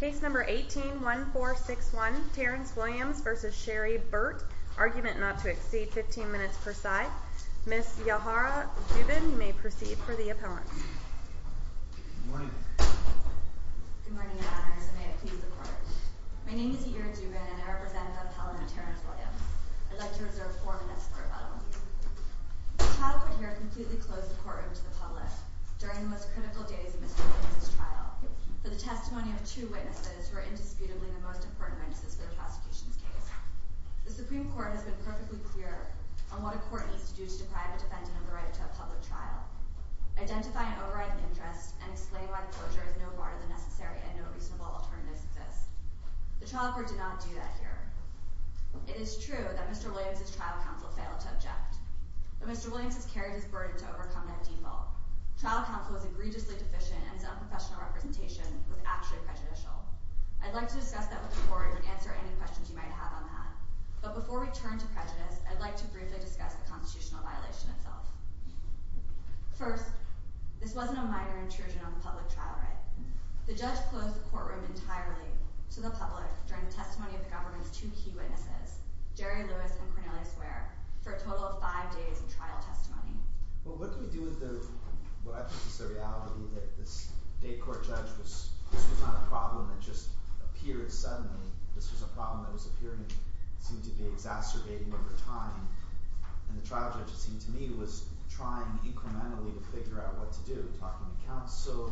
Case No. 18-1461, Terrence Williams v. Sherry Burt, argument not to exceed 15 minutes per side, Ms. Yahara Dubin, you may proceed for the appellant. Good morning. Good morning, Your Honors, and may it please the Court. My name is Yair Dubin, and I represent the appellant, Terrence Williams. I'd like to reserve four minutes for rebuttal. The trial put here a completely closed courtroom to the public during the most critical days of Mr. Williams' trial. For the testimony of two witnesses who are indisputably the most important witnesses for the prosecution's case. The Supreme Court has been perfectly clear on what a court needs to do to deprive a defendant of the right to a public trial, identify an overriding interest, and explain why the closure is no broader than necessary and no reasonable alternatives exist. The trial court did not do that here. It is true that Mr. Williams' trial counsel failed to object. But Mr. Williams has carried his burden to overcome that default. Trial counsel is egregiously deficient, and his unprofessional representation was actually prejudicial. I'd like to discuss that with the Court and answer any questions you might have on that. But before we turn to prejudice, I'd like to briefly discuss the constitutional violation itself. First, this wasn't a minor intrusion on the public trial right. The judge closed the courtroom entirely to the public during the testimony of the government's two key witnesses, Jerry Lewis and Cornelia Swear, for a total of five days of trial testimony. Well, what do we do with the – what I think is the reality that this state court judge was – this was not a problem that just appeared suddenly. This was a problem that was appearing and seemed to be exacerbating over time. And the trial judge, it seemed to me, was trying incrementally to figure out what to do, talking to counsel,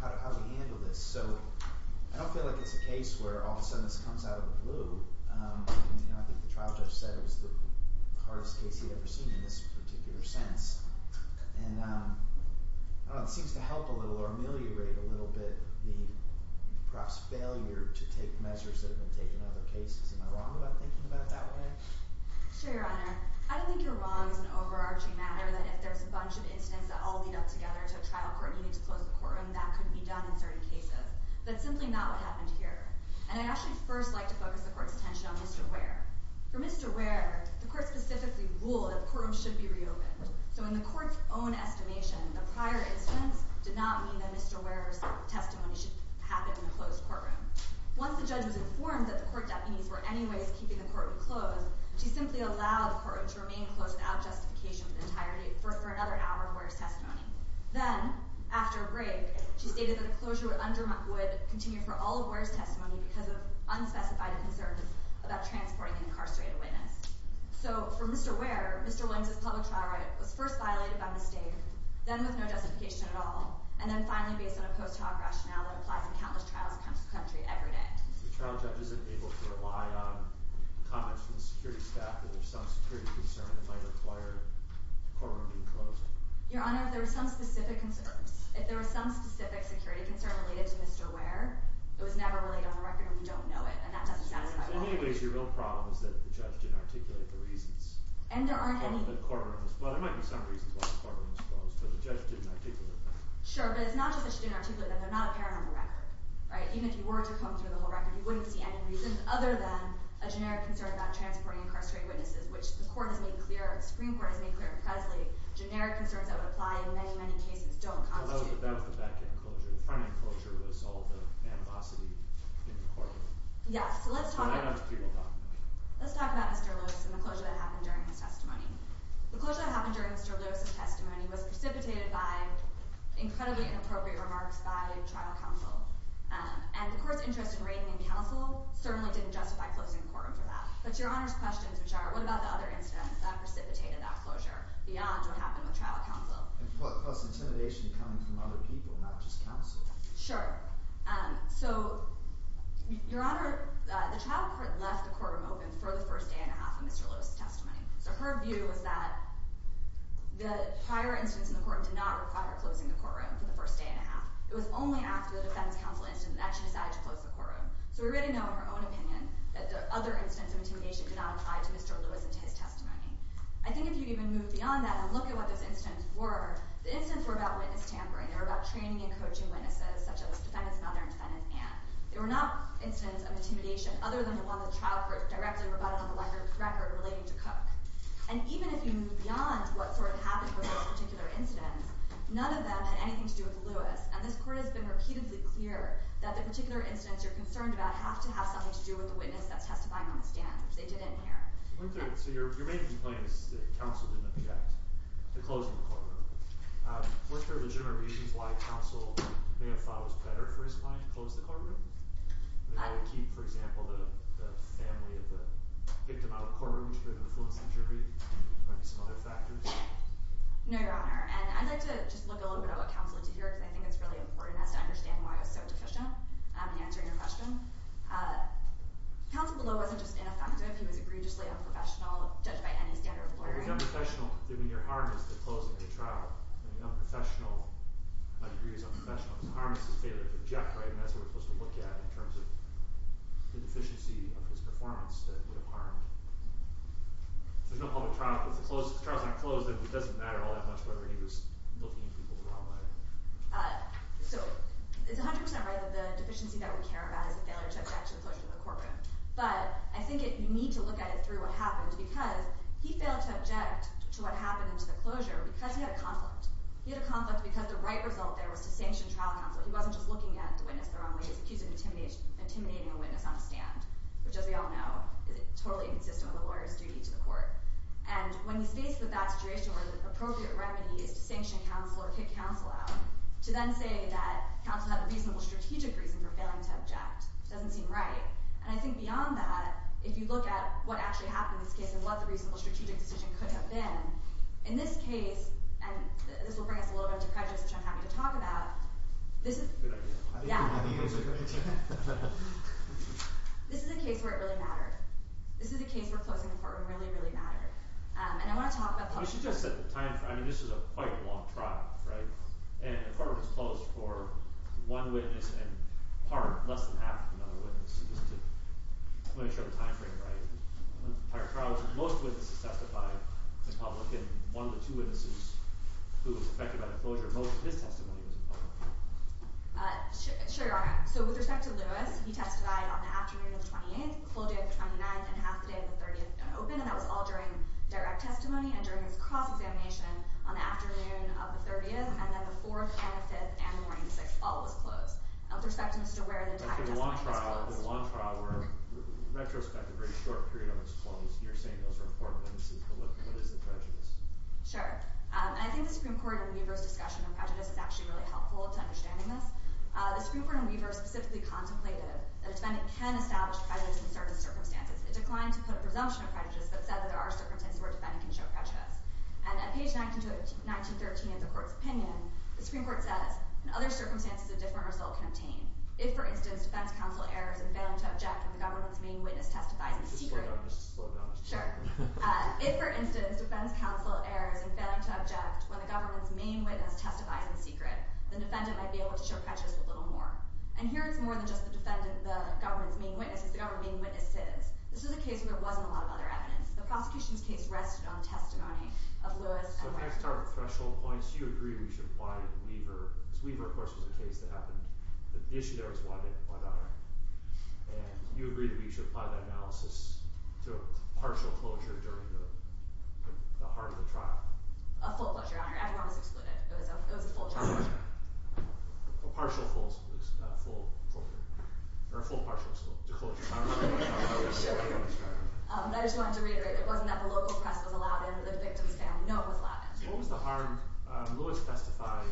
how to handle this. So I don't feel like it's a case where all of a sudden this comes out of the blue. I think the trial judge said it was the hardest case he'd ever seen in this particular sentence. And it seems to help a little or ameliorate a little bit the perhaps failure to take measures that have been taken in other cases. Am I wrong about thinking about it that way? Sure, Your Honor. I don't think you're wrong as an overarching matter that if there's a bunch of incidents that all lead up together to a trial court, you need to close the courtroom. That couldn't be done in certain cases. That's simply not what happened here. And I'd actually first like to focus the court's attention on Mr. Ware. For Mr. Ware, the court specifically ruled that the courtroom should be reopened. So in the court's own estimation, the prior instance did not mean that Mr. Ware's testimony should happen in a closed courtroom. Once the judge was informed that the court deputies were anyways keeping the courtroom closed, she simply allowed the courtroom to remain closed without justification for another hour of Ware's testimony. Then, after a break, she stated that a closure would continue for all of Ware's testimony because of unspecified concerns about transporting an incarcerated witness. So for Mr. Ware, Mr. Williams' public trial right was first violated by mistake, then with no justification at all, and then finally based on a post-trial rationale that applies in countless trials across the country every day. So the trial judge isn't able to rely on comments from the security staff that there's some security concern that might require the courtroom being closed? Your Honor, if there were some specific security concern related to Mr. Ware, it was never really on the record and we don't know it. And that doesn't satisfy all of us. So in any case, your real problem is that the judge didn't articulate the reasons. And there aren't any… Well, there might be some reasons why the courtroom was closed, but the judge didn't articulate them. Sure, but it's not just that she didn't articulate them. They're not apparent on the record. Even if you were to comb through the whole record, you wouldn't see any reasons other than a generic concern about transporting incarcerated witnesses, which the Supreme Court has made clear in Presley, generic concerns that would apply in many, many cases don't constitute… That was the back-end closure. The front-end closure was all the animosity in the courtroom. Yes, so let's talk about Mr. Lewis and the closure that happened during his testimony. The closure that happened during Mr. Lewis' testimony was precipitated by incredibly inappropriate remarks by trial counsel. And the court's interest in rating and counsel certainly didn't justify closing the courtroom for that. But Your Honor's questions, which are, what about the other incidents that precipitated that closure beyond what happened with trial counsel? Plus intimidation coming from other people, not just counsel. Sure. So, Your Honor, the trial court left the courtroom open for the first day and a half of Mr. Lewis' testimony. So her view was that the prior instance in the courtroom did not require closing the courtroom for the first day and a half. It was only after the defense counsel instance that she decided to close the courtroom. So we already know, in her own opinion, that the other instance of intimidation did not apply to Mr. Lewis and to his testimony. I think if you even move beyond that and look at what those incidents were, the incidents were about witness tampering. They were about training and coaching witnesses, such as defendant's mother and defendant's aunt. They were not incidents of intimidation, other than the one the trial court directly rebutted on the record relating to Cook. And even if you move beyond what sort of happened with those particular incidents, none of them had anything to do with Lewis. And this court has been repeatedly clear that the particular incidents you're concerned about have to have something to do with the witness that's testifying on the stand, which they didn't here. So your main complaint is that counsel didn't object to closing the courtroom. Was there legitimate reasons why counsel may have thought it was better for his client to close the courtroom? Maybe they would keep, for example, the family of the victim out of the courtroom, which could have influenced the jury? There might be some other factors. No, Your Honor. And I'd like to just look a little bit at what counsel did here, because I think it's really important for us to understand why he was so deficient in answering your question. Counsel below wasn't just ineffective. He was egregiously unprofessional, judged by any standard of lawyering. He was unprofessional. I mean, your harm is the closing of the trial. The unprofessional might agree he was unprofessional, but the harm is his failure to object, right? And that's what we're supposed to look at in terms of the deficiency of his performance that would have harmed. There's no public trial. If the trial's not closed, it doesn't matter all that much whether he was looking at people the wrong way. So it's 100% right that the deficiency that we care about is the failure to object to the closure of the courtroom. But I think you need to look at it through what happened, because he failed to object to what happened into the closure because he had a conflict. He had a conflict because the right result there was to sanction trial counsel. He wasn't just looking at the witness the wrong way. He was accusing and intimidating a witness on a stand, which, as we all know, is totally incorrect. It's inconsistent with a lawyer's duty to the court. And when he's faced with that situation where the appropriate remedy is to sanction counsel or kick counsel out, to then say that counsel had a reasonable strategic reason for failing to object doesn't seem right. And I think beyond that, if you look at what actually happened in this case and what the reasonable strategic decision could have been, in this case—and this will bring us a little bit into prejudice, which I'm happy to talk about— This is— Good idea. Yeah. This is a case where it really mattered. This is a case where closing the courtroom really, really mattered. And I want to talk about the— You should just set the timeframe. I mean, this was a quite long trial, right? And the courtroom was closed for one witness and, in part, less than half of another witness, just to ensure the timeframe, right? Most witnesses testified in public, and one of the two witnesses who was affected by the closure, most of his testimony was in public. Sure, Your Honor. So with respect to Lewis, he testified on the afternoon of the 28th, the full day of the 29th, and half the day of the 30th open, and that was all during direct testimony and during his cross-examination on the afternoon of the 30th, and then the 4th, the 25th, and the morning of the 6th all was closed. Now, with respect to Mr. Ware, the entire testimony was closed. But for the long trial, the long trial where, retrospectively, a short period of it was closed, you're saying those were four witnesses, but what is the prejudice? Sure. And I think the Supreme Court in Weaver's discussion of prejudice is actually really helpful to understanding this. The Supreme Court in Weaver specifically contemplated that a defendant can establish prejudice in certain circumstances. It declined to put a presumption of prejudice, but said that there are circumstances where a defendant can show prejudice. And at page 1913 of the Court's opinion, the Supreme Court says, in other circumstances, a different result can obtain. If, for instance, defense counsel errors in failing to object when the government's main witness testifies in secret… Just slow down. Just slow down. Sure. If, for instance, defense counsel errors in failing to object when the government's main witness testifies in secret, the defendant might be able to show prejudice a little more. And here it's more than just the government's main witness. It's the government's main witnesses. This is a case where there wasn't a lot of other evidence. The prosecution's case rested on the testimony of Lewis and Ware. So if I start with threshold points, do you agree we should apply Weaver? Because Weaver, of course, was a case that happened. But the issue there was why not? And do you agree that we should apply that analysis to a partial closure during the heart of the trial? A full closure, Your Honor. Everyone was excluded. It was a full closure. A partial full closure. Not a full closure. Or a full partial closure. Sure. But I just wanted to reiterate, it wasn't that the local press was allowed in, the victims' family. No, it was allowed in. So what was the harm? Lewis testified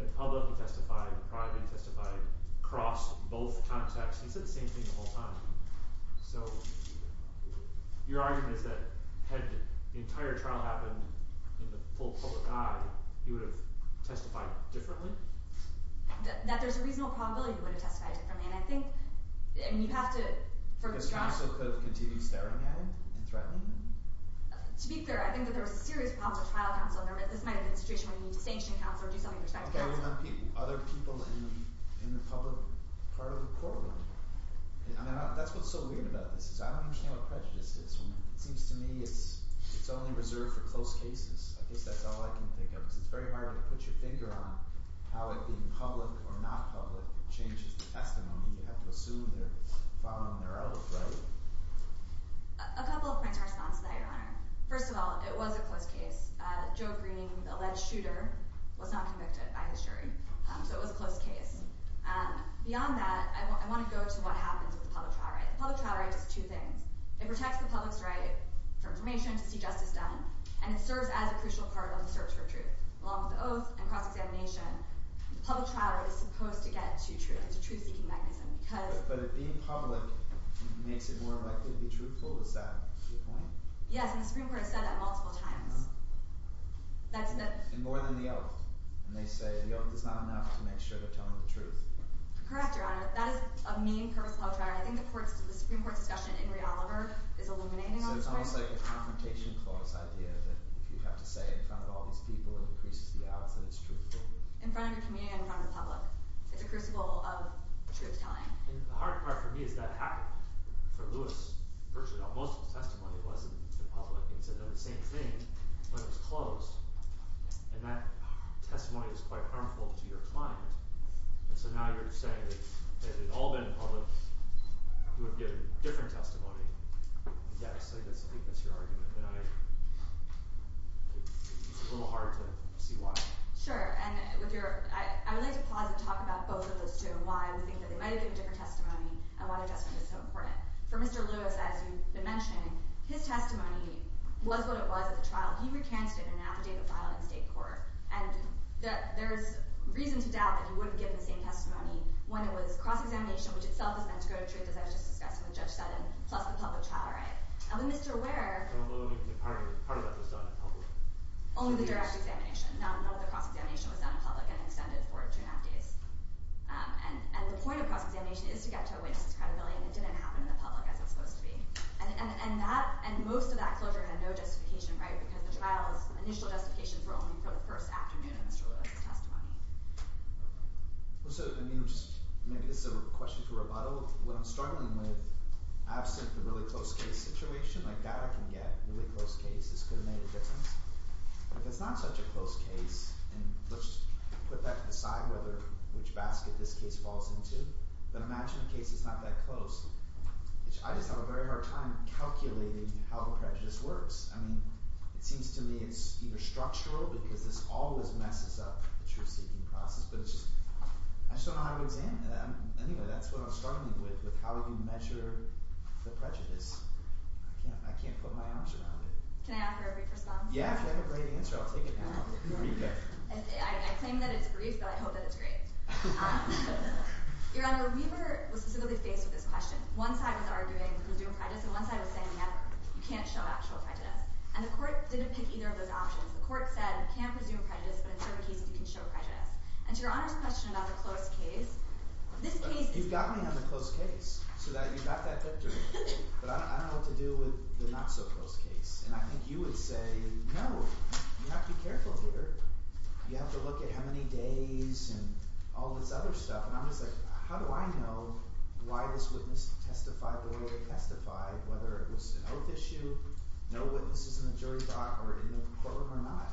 in public, he testified in private, he testified across both contexts. He said the same thing the whole time. So your argument is that had the entire trial happened in the full public eye, he would have testified differently? That there's a reasonable probability he would have testified differently. And I think, I mean, you have to – Because he also could have continued staring at him and threatening him? To be clear, I think that there was a serious problem with trial counsel. This might have been a situation where you need to sanction counsel or do something with respect to counsel. Other people in the public part of the courtroom. That's what's so weird about this. I don't understand what prejudice is. It seems to me it's only reserved for close cases. I guess that's all I can think of. Because it's very hard to put your finger on how it being public or not public changes the testimony. You have to assume they're following their oath, right? A couple of points of response to that, Your Honor. First of all, it was a close case. Joe Green, the alleged shooter, was not convicted by his jury. So it was a close case. Beyond that, I want to go to what happens with the public trial right. The public trial right does two things. It protects the public's right for information to see justice done. And it serves as a crucial part of the search for truth. Along with the oath and cross-examination, the public trial is supposed to get to truth. It's a truth-seeking mechanism because – But if being public makes it more likely to be truthful, is that your point? Yes, and the Supreme Court has said that multiple times. And more than the oath. And they say the oath is not enough to make sure they're telling the truth. Correct, Your Honor. That is a mean purposeful public trial. I think the Supreme Court discussion in Henry Oliver is illuminating on this point. So it's almost like a confrontation clause idea. That if you have to say in front of all these people, it increases the odds that it's truthful. In front of your community and in front of the public. It's a crucible of truth-telling. And the hard part for me is that happened for Lewis. Virtually all – most of the testimony wasn't in public. And he said the same thing when it was closed. And that testimony is quite harmful to your client. And so now you're saying that if it had all been in public, you would get a different testimony. Yes, I think that's your argument. And I – it's a little hard to see why. Sure. And with your – I would like to pause and talk about both of those two and why we think that they might have given different testimony and why the adjustment is so important. For Mr. Lewis, as you've been mentioning, his testimony was what it was at the trial. He recanted an affidavit filed in state court. And there's reason to doubt that he would have given the same testimony when it was cross-examination, which itself is meant to go to truth, as I was just discussing with Judge Sutton, plus the public trial, right? And with Mr. Ware – I don't believe that part of that was done in public. Only the direct examination. None of the cross-examination was done in public and extended for two and a half days. And the point of cross-examination is to get to a witness' credibility, and it didn't happen in the public as it's supposed to be. And that – and most of that closure had no justification, right, because the trial's initial justifications were only for the first afternoon of Mr. Lewis' testimony. So let me just – maybe this is a question for Roboto. When I'm struggling with – absent the really close case situation, like data can get really close cases could have made a difference. If it's not such a close case – and let's put that to the side, whether – which basket this case falls into. But imagine a case that's not that close. I just have a very hard time calculating how the prejudice works. I mean, it seems to me it's either structural because this always messes up the truth-seeking process, but it's just – I just don't know how to examine it. Anyway, that's what I'm struggling with, with how we can measure the prejudice. I can't put my arms around it. Can I offer a brief response? Yeah, if you have a great answer, I'll take it. I claim that it's brief, but I hope that it's great. Your Honor, we were specifically faced with this question. One side was arguing presumed prejudice, and one side was saying, you can't show actual prejudice. And the court didn't pick either of those options. The court said you can't presume prejudice, but in certain cases you can show prejudice. And to Your Honor's question about the close case, this case – You've got me on the close case so that you've got that victory. But I don't know what to do with the not-so-close case. And I think you would say, no, you have to be careful here. You have to look at how many days and all this other stuff. And I'm just like, how do I know why this witness testified the way they testified, whether it was an oath issue, no witnesses in the jury dock, or in the courtroom or not?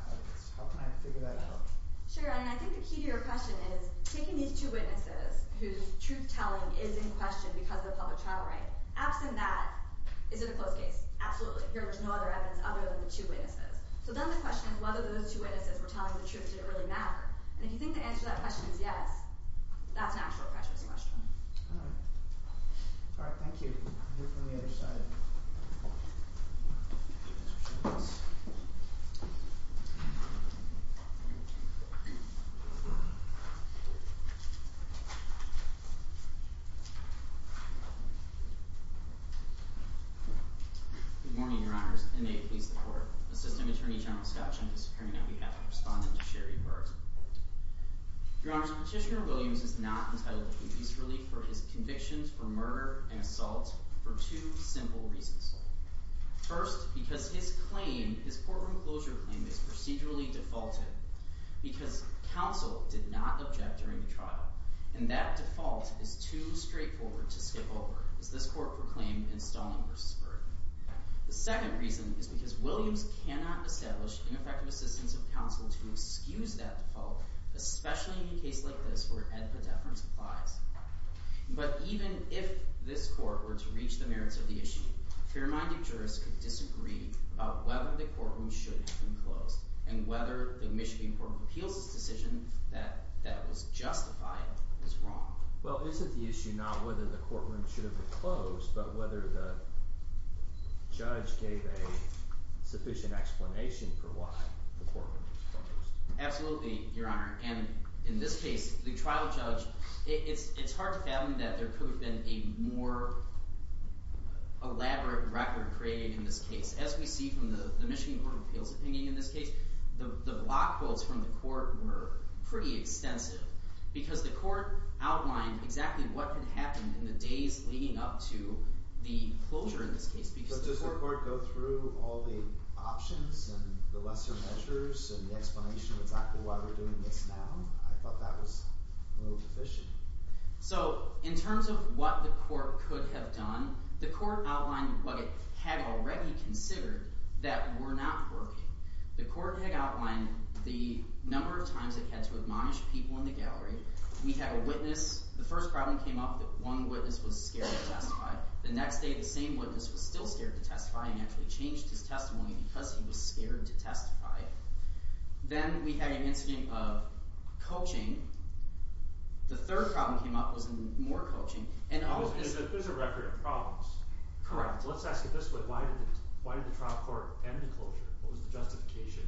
How can I figure that out? Sure, and I think the key to your question is taking these two witnesses whose truth-telling is in question because of the public trial rate. Absent that, is it a close case? Absolutely. Here was no other evidence other than the two witnesses. So then the question is whether those two witnesses were telling the truth in an early manner. And if you think the answer to that question is yes, that's an actual prejudice question. All right. All right, thank you. Here from the other side. Good morning, Your Honors. Inmate Police Department. Assistant Attorney General Skouch. I'm disappearing on behalf of the respondent to share your words. Your Honors, Petitioner Williams is not entitled to police relief for his convictions for murder and assault for two simple reasons. First, because his claim, his courtroom closure claim, is procedurally defaulted because counsel did not object during the trial. And that default is too straightforward to skip over, as this court proclaimed in Stalling v. Berg. The second reason is because Williams cannot establish ineffective assistance of counsel to excuse that default, especially in a case like this where ad podeferens applies. But even if this court were to reach the merits of the issue, fair-minded jurists could disagree about whether the courtroom should have been closed and whether the Michigan Court of Appeals' decision that that was justified was wrong. Well, is it the issue not whether the courtroom should have been closed, but whether the judge gave a sufficient explanation for why the courtroom was closed? Absolutely, Your Honor. And in this case, the trial judge – it's hard to fathom that there could have been a more elaborate record created in this case. As we see from the Michigan Court of Appeals' opinion in this case, the block votes from the court were pretty extensive because the court outlined exactly what could happen in the days leading up to the closure in this case. But does the court go through all the options and the lesser measures and the explanation of exactly why we're doing this now? I thought that was a little deficient. So in terms of what the court could have done, the court outlined what it had already considered that were not working. The court had outlined the number of times it had to admonish people in the gallery. We had a witness – the first problem came up that one witness was scared to testify. The next day, the same witness was still scared to testify and actually changed his testimony because he was scared to testify. Then we had an incident of coaching. The third problem came up was more coaching. There's a record of problems. Correct. Let's ask it this way. Why did the trial court end the closure? What was the justification?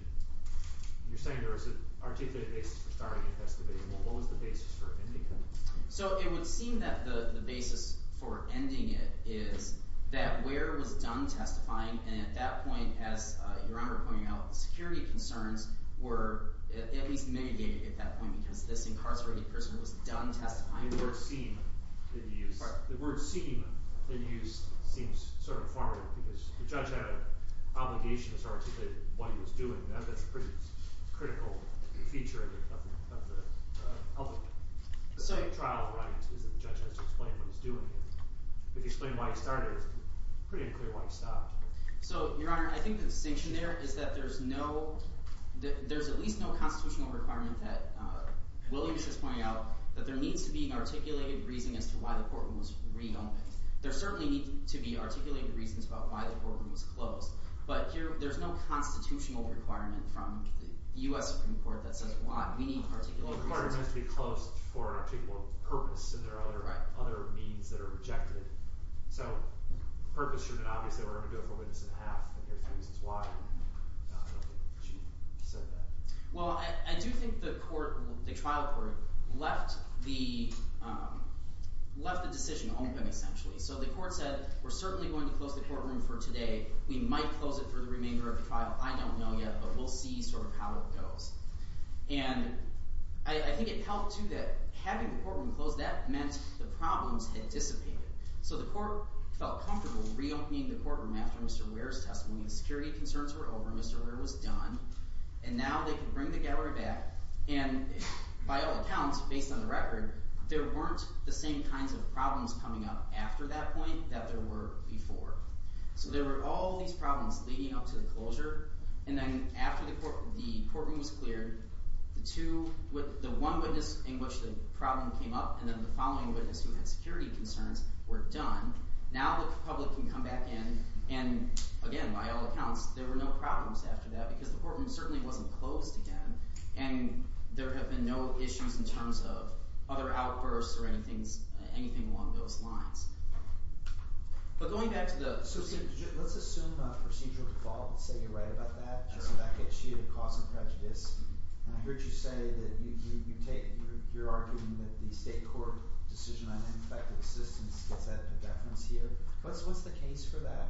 You're saying there was an articulated basis for starting the investigation. What was the basis for ending it? So it would seem that the basis for ending it is that Ware was done testifying, and at that point, as Your Honor pointed out, the security concerns were at least mitigated at that point because this incarcerated person was done testifying. The word seem that you used seems sort of formative because the judge had an obligation to articulate what he was doing. That's a pretty critical feature of the public. The second trial right is that the judge has to explain what he's doing. If you explain why he started it, it's pretty unclear why he stopped. So Your Honor, I think the distinction there is that there's no – there's at least no constitutional requirement that – there's no articulated reason as to why the courtroom was re-opened. There certainly need to be articulated reasons about why the courtroom was closed, but there's no constitutional requirement from the U.S. Supreme Court that says why. We need articulated reasons. The courtroom has to be closed for an articulated purpose, and there are other means that are rejected. So purpose should have been obvious that we're going to go forward with this in half, and here's three reasons why. I don't think the judge said that. Well, I do think the court – the trial court left the decision open essentially. So the court said we're certainly going to close the courtroom for today. We might close it for the remainder of the trial. I don't know yet, but we'll see sort of how it goes. And I think it helped too that having the courtroom closed, that meant the problems had dissipated. So the court felt comfortable re-opening the courtroom after Mr. Ware's testimony. The security concerns were over. Mr. Ware was done, and now they could bring the gallery back. And by all accounts, based on the record, there weren't the same kinds of problems coming up after that point that there were before. So there were all these problems leading up to the closure, and then after the courtroom was cleared, the two – the one witness in which the problem came up and then the following witness who had security concerns were done. Now the public can come back in, and again, by all accounts, there were no problems after that because the courtroom certainly wasn't closed again. And there have been no issues in terms of other outbursts or anything along those lines. But going back to the – So let's assume a procedural default and say you're right about that. I said that gets you to cause some prejudice. And I heard you say that you take – you're arguing that the state court decision on ineffective assistance gets added to deference here. What's the case for that?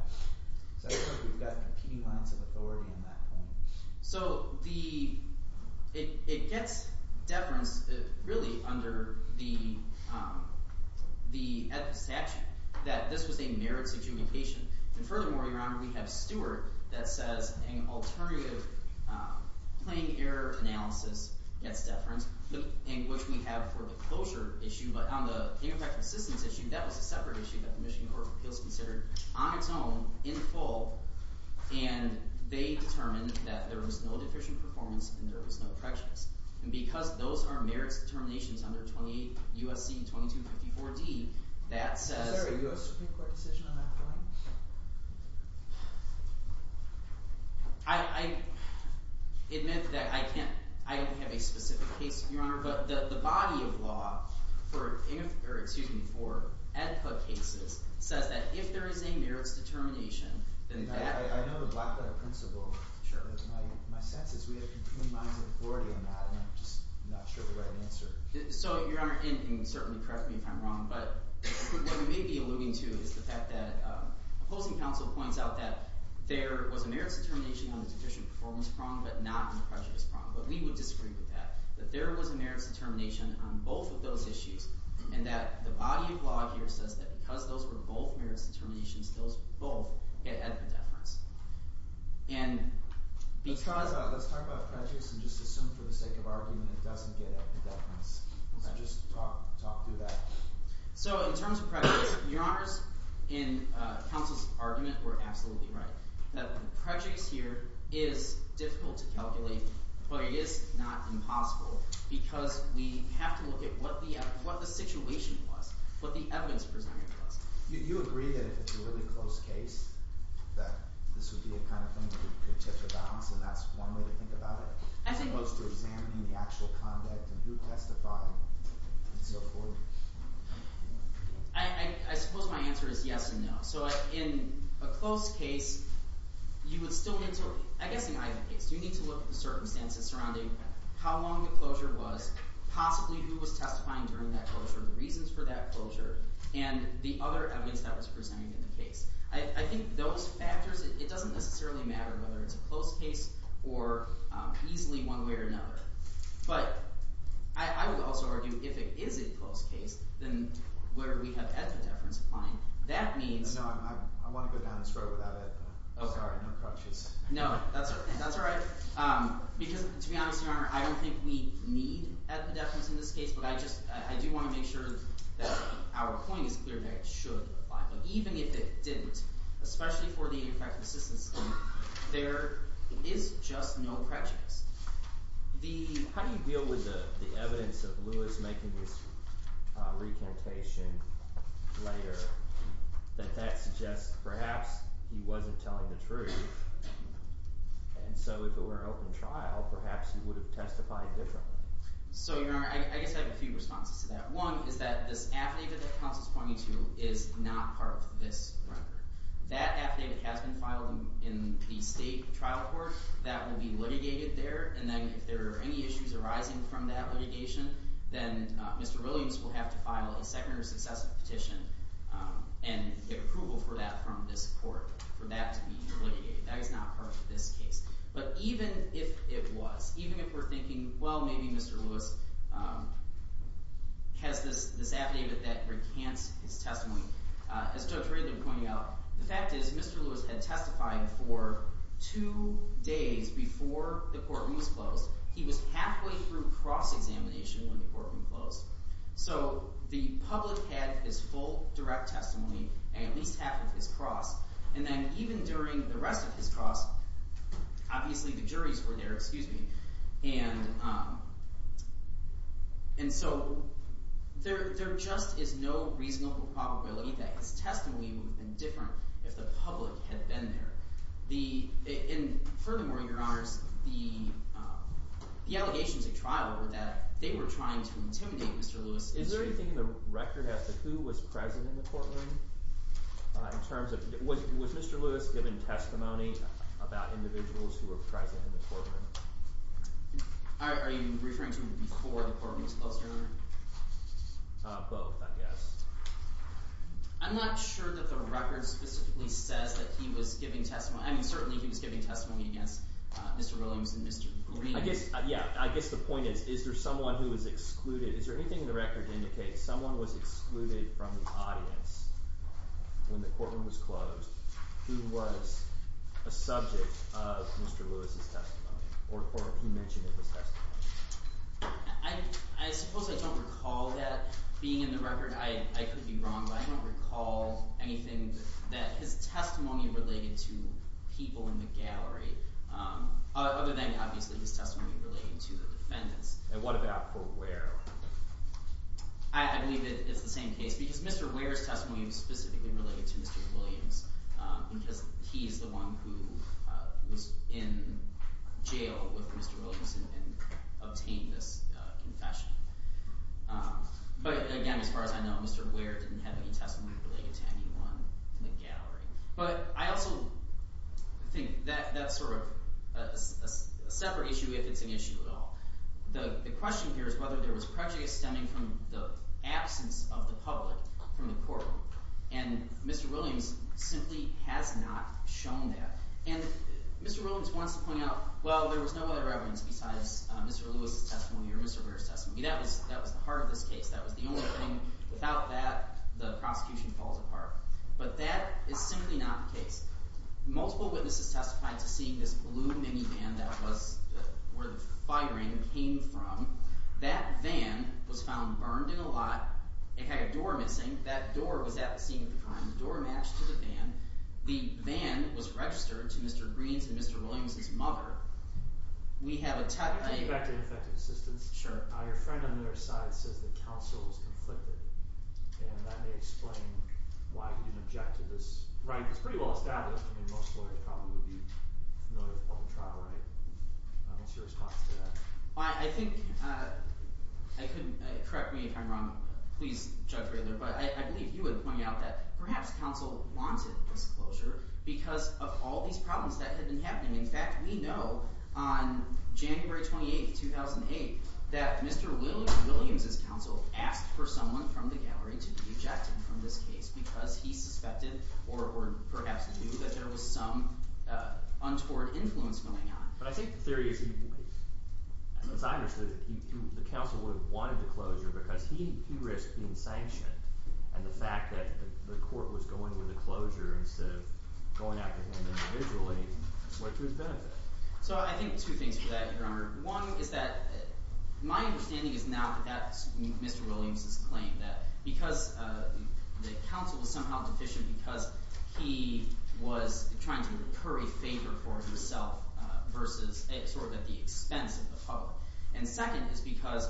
Because I think we've got competing lines of authority on that point. So the – it gets deference really under the statute that this was a merits adjudication. And furthermore, Your Honor, we have Stewart that says an alternative plain error analysis gets deference, which we have for the closure issue. But on the ineffective assistance issue, that was a separate issue that the Michigan Court of Appeals considered on its own in full, and they determined that there was no deficient performance and there was no prejudice. And because those are merits determinations under 28 U.S.C. 2254d, that says – Is there a state court decision on that point? I admit that I can't – I don't have a specific case, Your Honor. But the body of law for – or excuse me – for AEDPA cases says that if there is a merits determination, then that – I know the Blackwater principle. My sense is we have competing lines of authority on that, and I'm just not sure of the right answer. So, Your Honor – and you can certainly correct me if I'm wrong. But what we may be alluding to is the fact that opposing counsel points out that there was a merits determination on the deficient performance prong but not on the prejudice prong. But we would disagree with that, that there was a merits determination on both of those issues and that the body of law here says that because those were both merits determinations, those both get AEDPA deference. And because – Let's talk about prejudice and just assume for the sake of argument it doesn't get AEDPA deference. So just talk through that. So in terms of prejudice, Your Honors, in counsel's argument, we're absolutely right. The prejudice here is difficult to calculate, but it is not impossible because we have to look at what the – what the situation was, what the evidence presented was. You agree that if it's a really close case that this would be the kind of thing that could tip the balance, and that's one way to think about it? As opposed to examining the actual conduct of who testified and so forth. I suppose my answer is yes and no. So in a close case, you would still – I guess in either case, you need to look at the circumstances surrounding how long the closure was, possibly who was testifying during that closure, the reasons for that closure, and the other evidence that was presented in the case. I think those factors – it doesn't necessarily matter whether it's a close case or easily one way or another. But I would also argue if it is a close case, then where do we have AEDPA deference applying? That means – No, I want to go down this road without AEDPA. Sorry, no crutches. No, that's all right. Because to be honest, Your Honor, I don't think we need AEDPA deference in this case, but I just – I do want to make sure that our point is clear that it should apply. But even if it didn't, especially for the AEDPA consistency, there is just no crutches. The – how do you deal with the evidence of Lewis making his recantation later that that suggests perhaps he wasn't telling the truth? And so if it were an open trial, perhaps he would have testified differently. So, Your Honor, I guess I have a few responses to that. One is that this affidavit that counsel is pointing to is not part of this record. That affidavit has been filed in the state trial court. That will be litigated there, and then if there are any issues arising from that litigation, then Mr. Williams will have to file a second or successive petition and get approval for that from this court for that to be litigated. That is not part of this case. But even if it was, even if we're thinking, well, maybe Mr. Lewis has this affidavit that recants his testimony, as Judge Ridley pointed out, the fact is Mr. Lewis had testified for two days before the courtroom was closed. He was halfway through cross-examination when the courtroom closed. So the public had his full direct testimony, at least half of his cross, and then even during the rest of his cross, obviously the juries were there. And so there just is no reasonable probability that his testimony would have been different if the public had been there. And furthermore, Your Honors, the allegations at trial were that they were trying to intimidate Mr. Lewis. Is there anything in the record as to who was present in the courtroom in terms of – was Mr. Lewis given testimony about individuals who were present in the courtroom? Are you referring to before the courtroom was closed? Both, I guess. I'm not sure that the record specifically says that he was giving testimony. I mean, certainly he was giving testimony against Mr. Williams and Mr. Green. Yeah, I guess the point is, is there someone who was excluded? Is there anything in the record that indicates someone was excluded from the audience when the courtroom was closed who was a subject of Mr. Lewis' testimony or he mentioned in his testimony? I suppose I don't recall that being in the record. I could be wrong, but I don't recall anything that his testimony related to people in the gallery, other than obviously his testimony related to the defendants. And what about for Ware? I believe it's the same case because Mr. Ware's testimony was specifically related to Mr. Williams because he's the one who was in jail with Mr. Williams and obtained this confession. But again, as far as I know, Mr. Ware didn't have any testimony related to anyone in the gallery. But I also think that's sort of a separate issue if it's an issue at all. The question here is whether there was prejudice stemming from the absence of the public from the courtroom. And Mr. Williams simply has not shown that. And Mr. Williams wants to point out, well, there was no other evidence besides Mr. Lewis' testimony or Mr. Ware's testimony. That was the heart of this case. That was the only thing. Without that, the prosecution falls apart. But that is simply not the case. Multiple witnesses testified to seeing this blue minivan that was where the firing came from. That van was found burned in a lot. It had a door missing. That door was at the scene of the crime. The door matched to the van. The van was registered to Mr. Greene's and Mr. Williams' mother. We have a – Can I take you back to Ineffective Assistance? Sure. Your friend on the other side says that counsel was conflicted, and that may explain why he didn't object to this. Right. It's pretty well established. I mean most lawyers probably would be familiar with public trial, right? What's your response to that? I think – correct me if I'm wrong. Please, Judge Raylor. But I believe he would point out that perhaps counsel wanted this closure because of all these problems that had been happening. In fact, we know on January 28, 2008, that Mr. Williams' counsel asked for someone from the gallery to be objected from this case because he suspected or perhaps knew that there was some untoward influence going on. But I think the theory is – as I understood it, the counsel would have wanted the closure because he risked being sanctioned. And the fact that the court was going with the closure instead of going after him individually went to his benefit. So I think two things for that, Your Honor. One is that my understanding is now that that's Mr. Williams' claim, that because the counsel was somehow deficient because he was trying to curry favor for himself versus sort of at the expense of the public. And second is because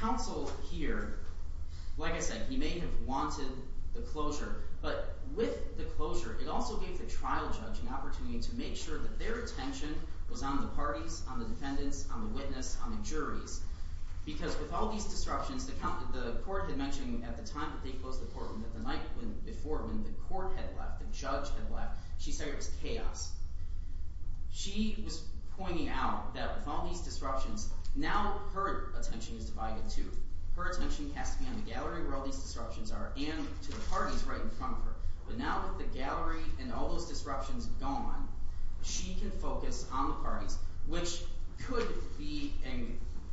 counsel here – like I said, he may have wanted the closure. But with the closure, it also gave the trial judge an opportunity to make sure that their attention was on the parties, on the defendants, on the witness, on the juries. Because with all these disruptions, the court had mentioned at the time that they closed the courtroom that the night before when the court had left, the judge had left, she said it was chaos. She was pointing out that with all these disruptions, now her attention is divided too. Her attention has to be on the gallery where all these disruptions are and to the parties right in front of her. But now with the gallery and all those disruptions gone, she can focus on the parties, which could be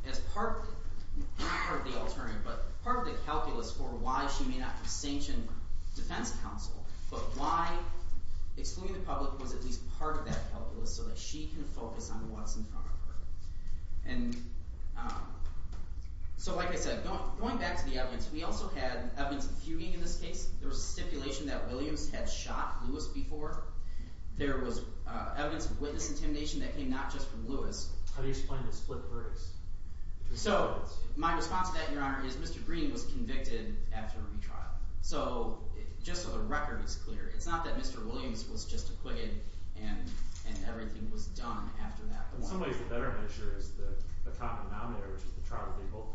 as part – not part of the alternative, but part of the calculus for why she may not be sanctioned defense counsel. But why excluding the public was at least part of that calculus so that she can focus on what's in front of her. And so like I said, going back to the evidence, we also had evidence of fuging in this case. There was stipulation that Williams had shot Lewis before. There was evidence of witness intimidation that came not just from Lewis. How do you explain the split verdicts? So my response to that, Your Honor, is Mr. Green was convicted after retrial. So just so the record is clear, it's not that Mr. Williams was just acquitted and everything was done after that. In some ways, the better measure is the common denominator, which is the trial that they both participated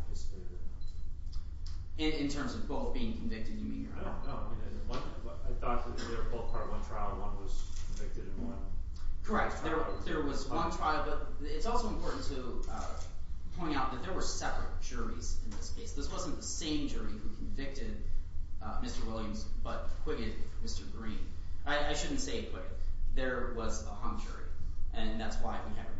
in. In terms of both being convicted, you mean, Your Honor? No, no. I thought that they were both part of one trial. One was convicted in one trial. Correct. There was one trial, but it's also important to point out that there were separate juries in this case. This wasn't the same jury who convicted Mr. Williams but acquitted Mr. Green. I shouldn't say acquitted. There was a hung jury, and that's why we have it.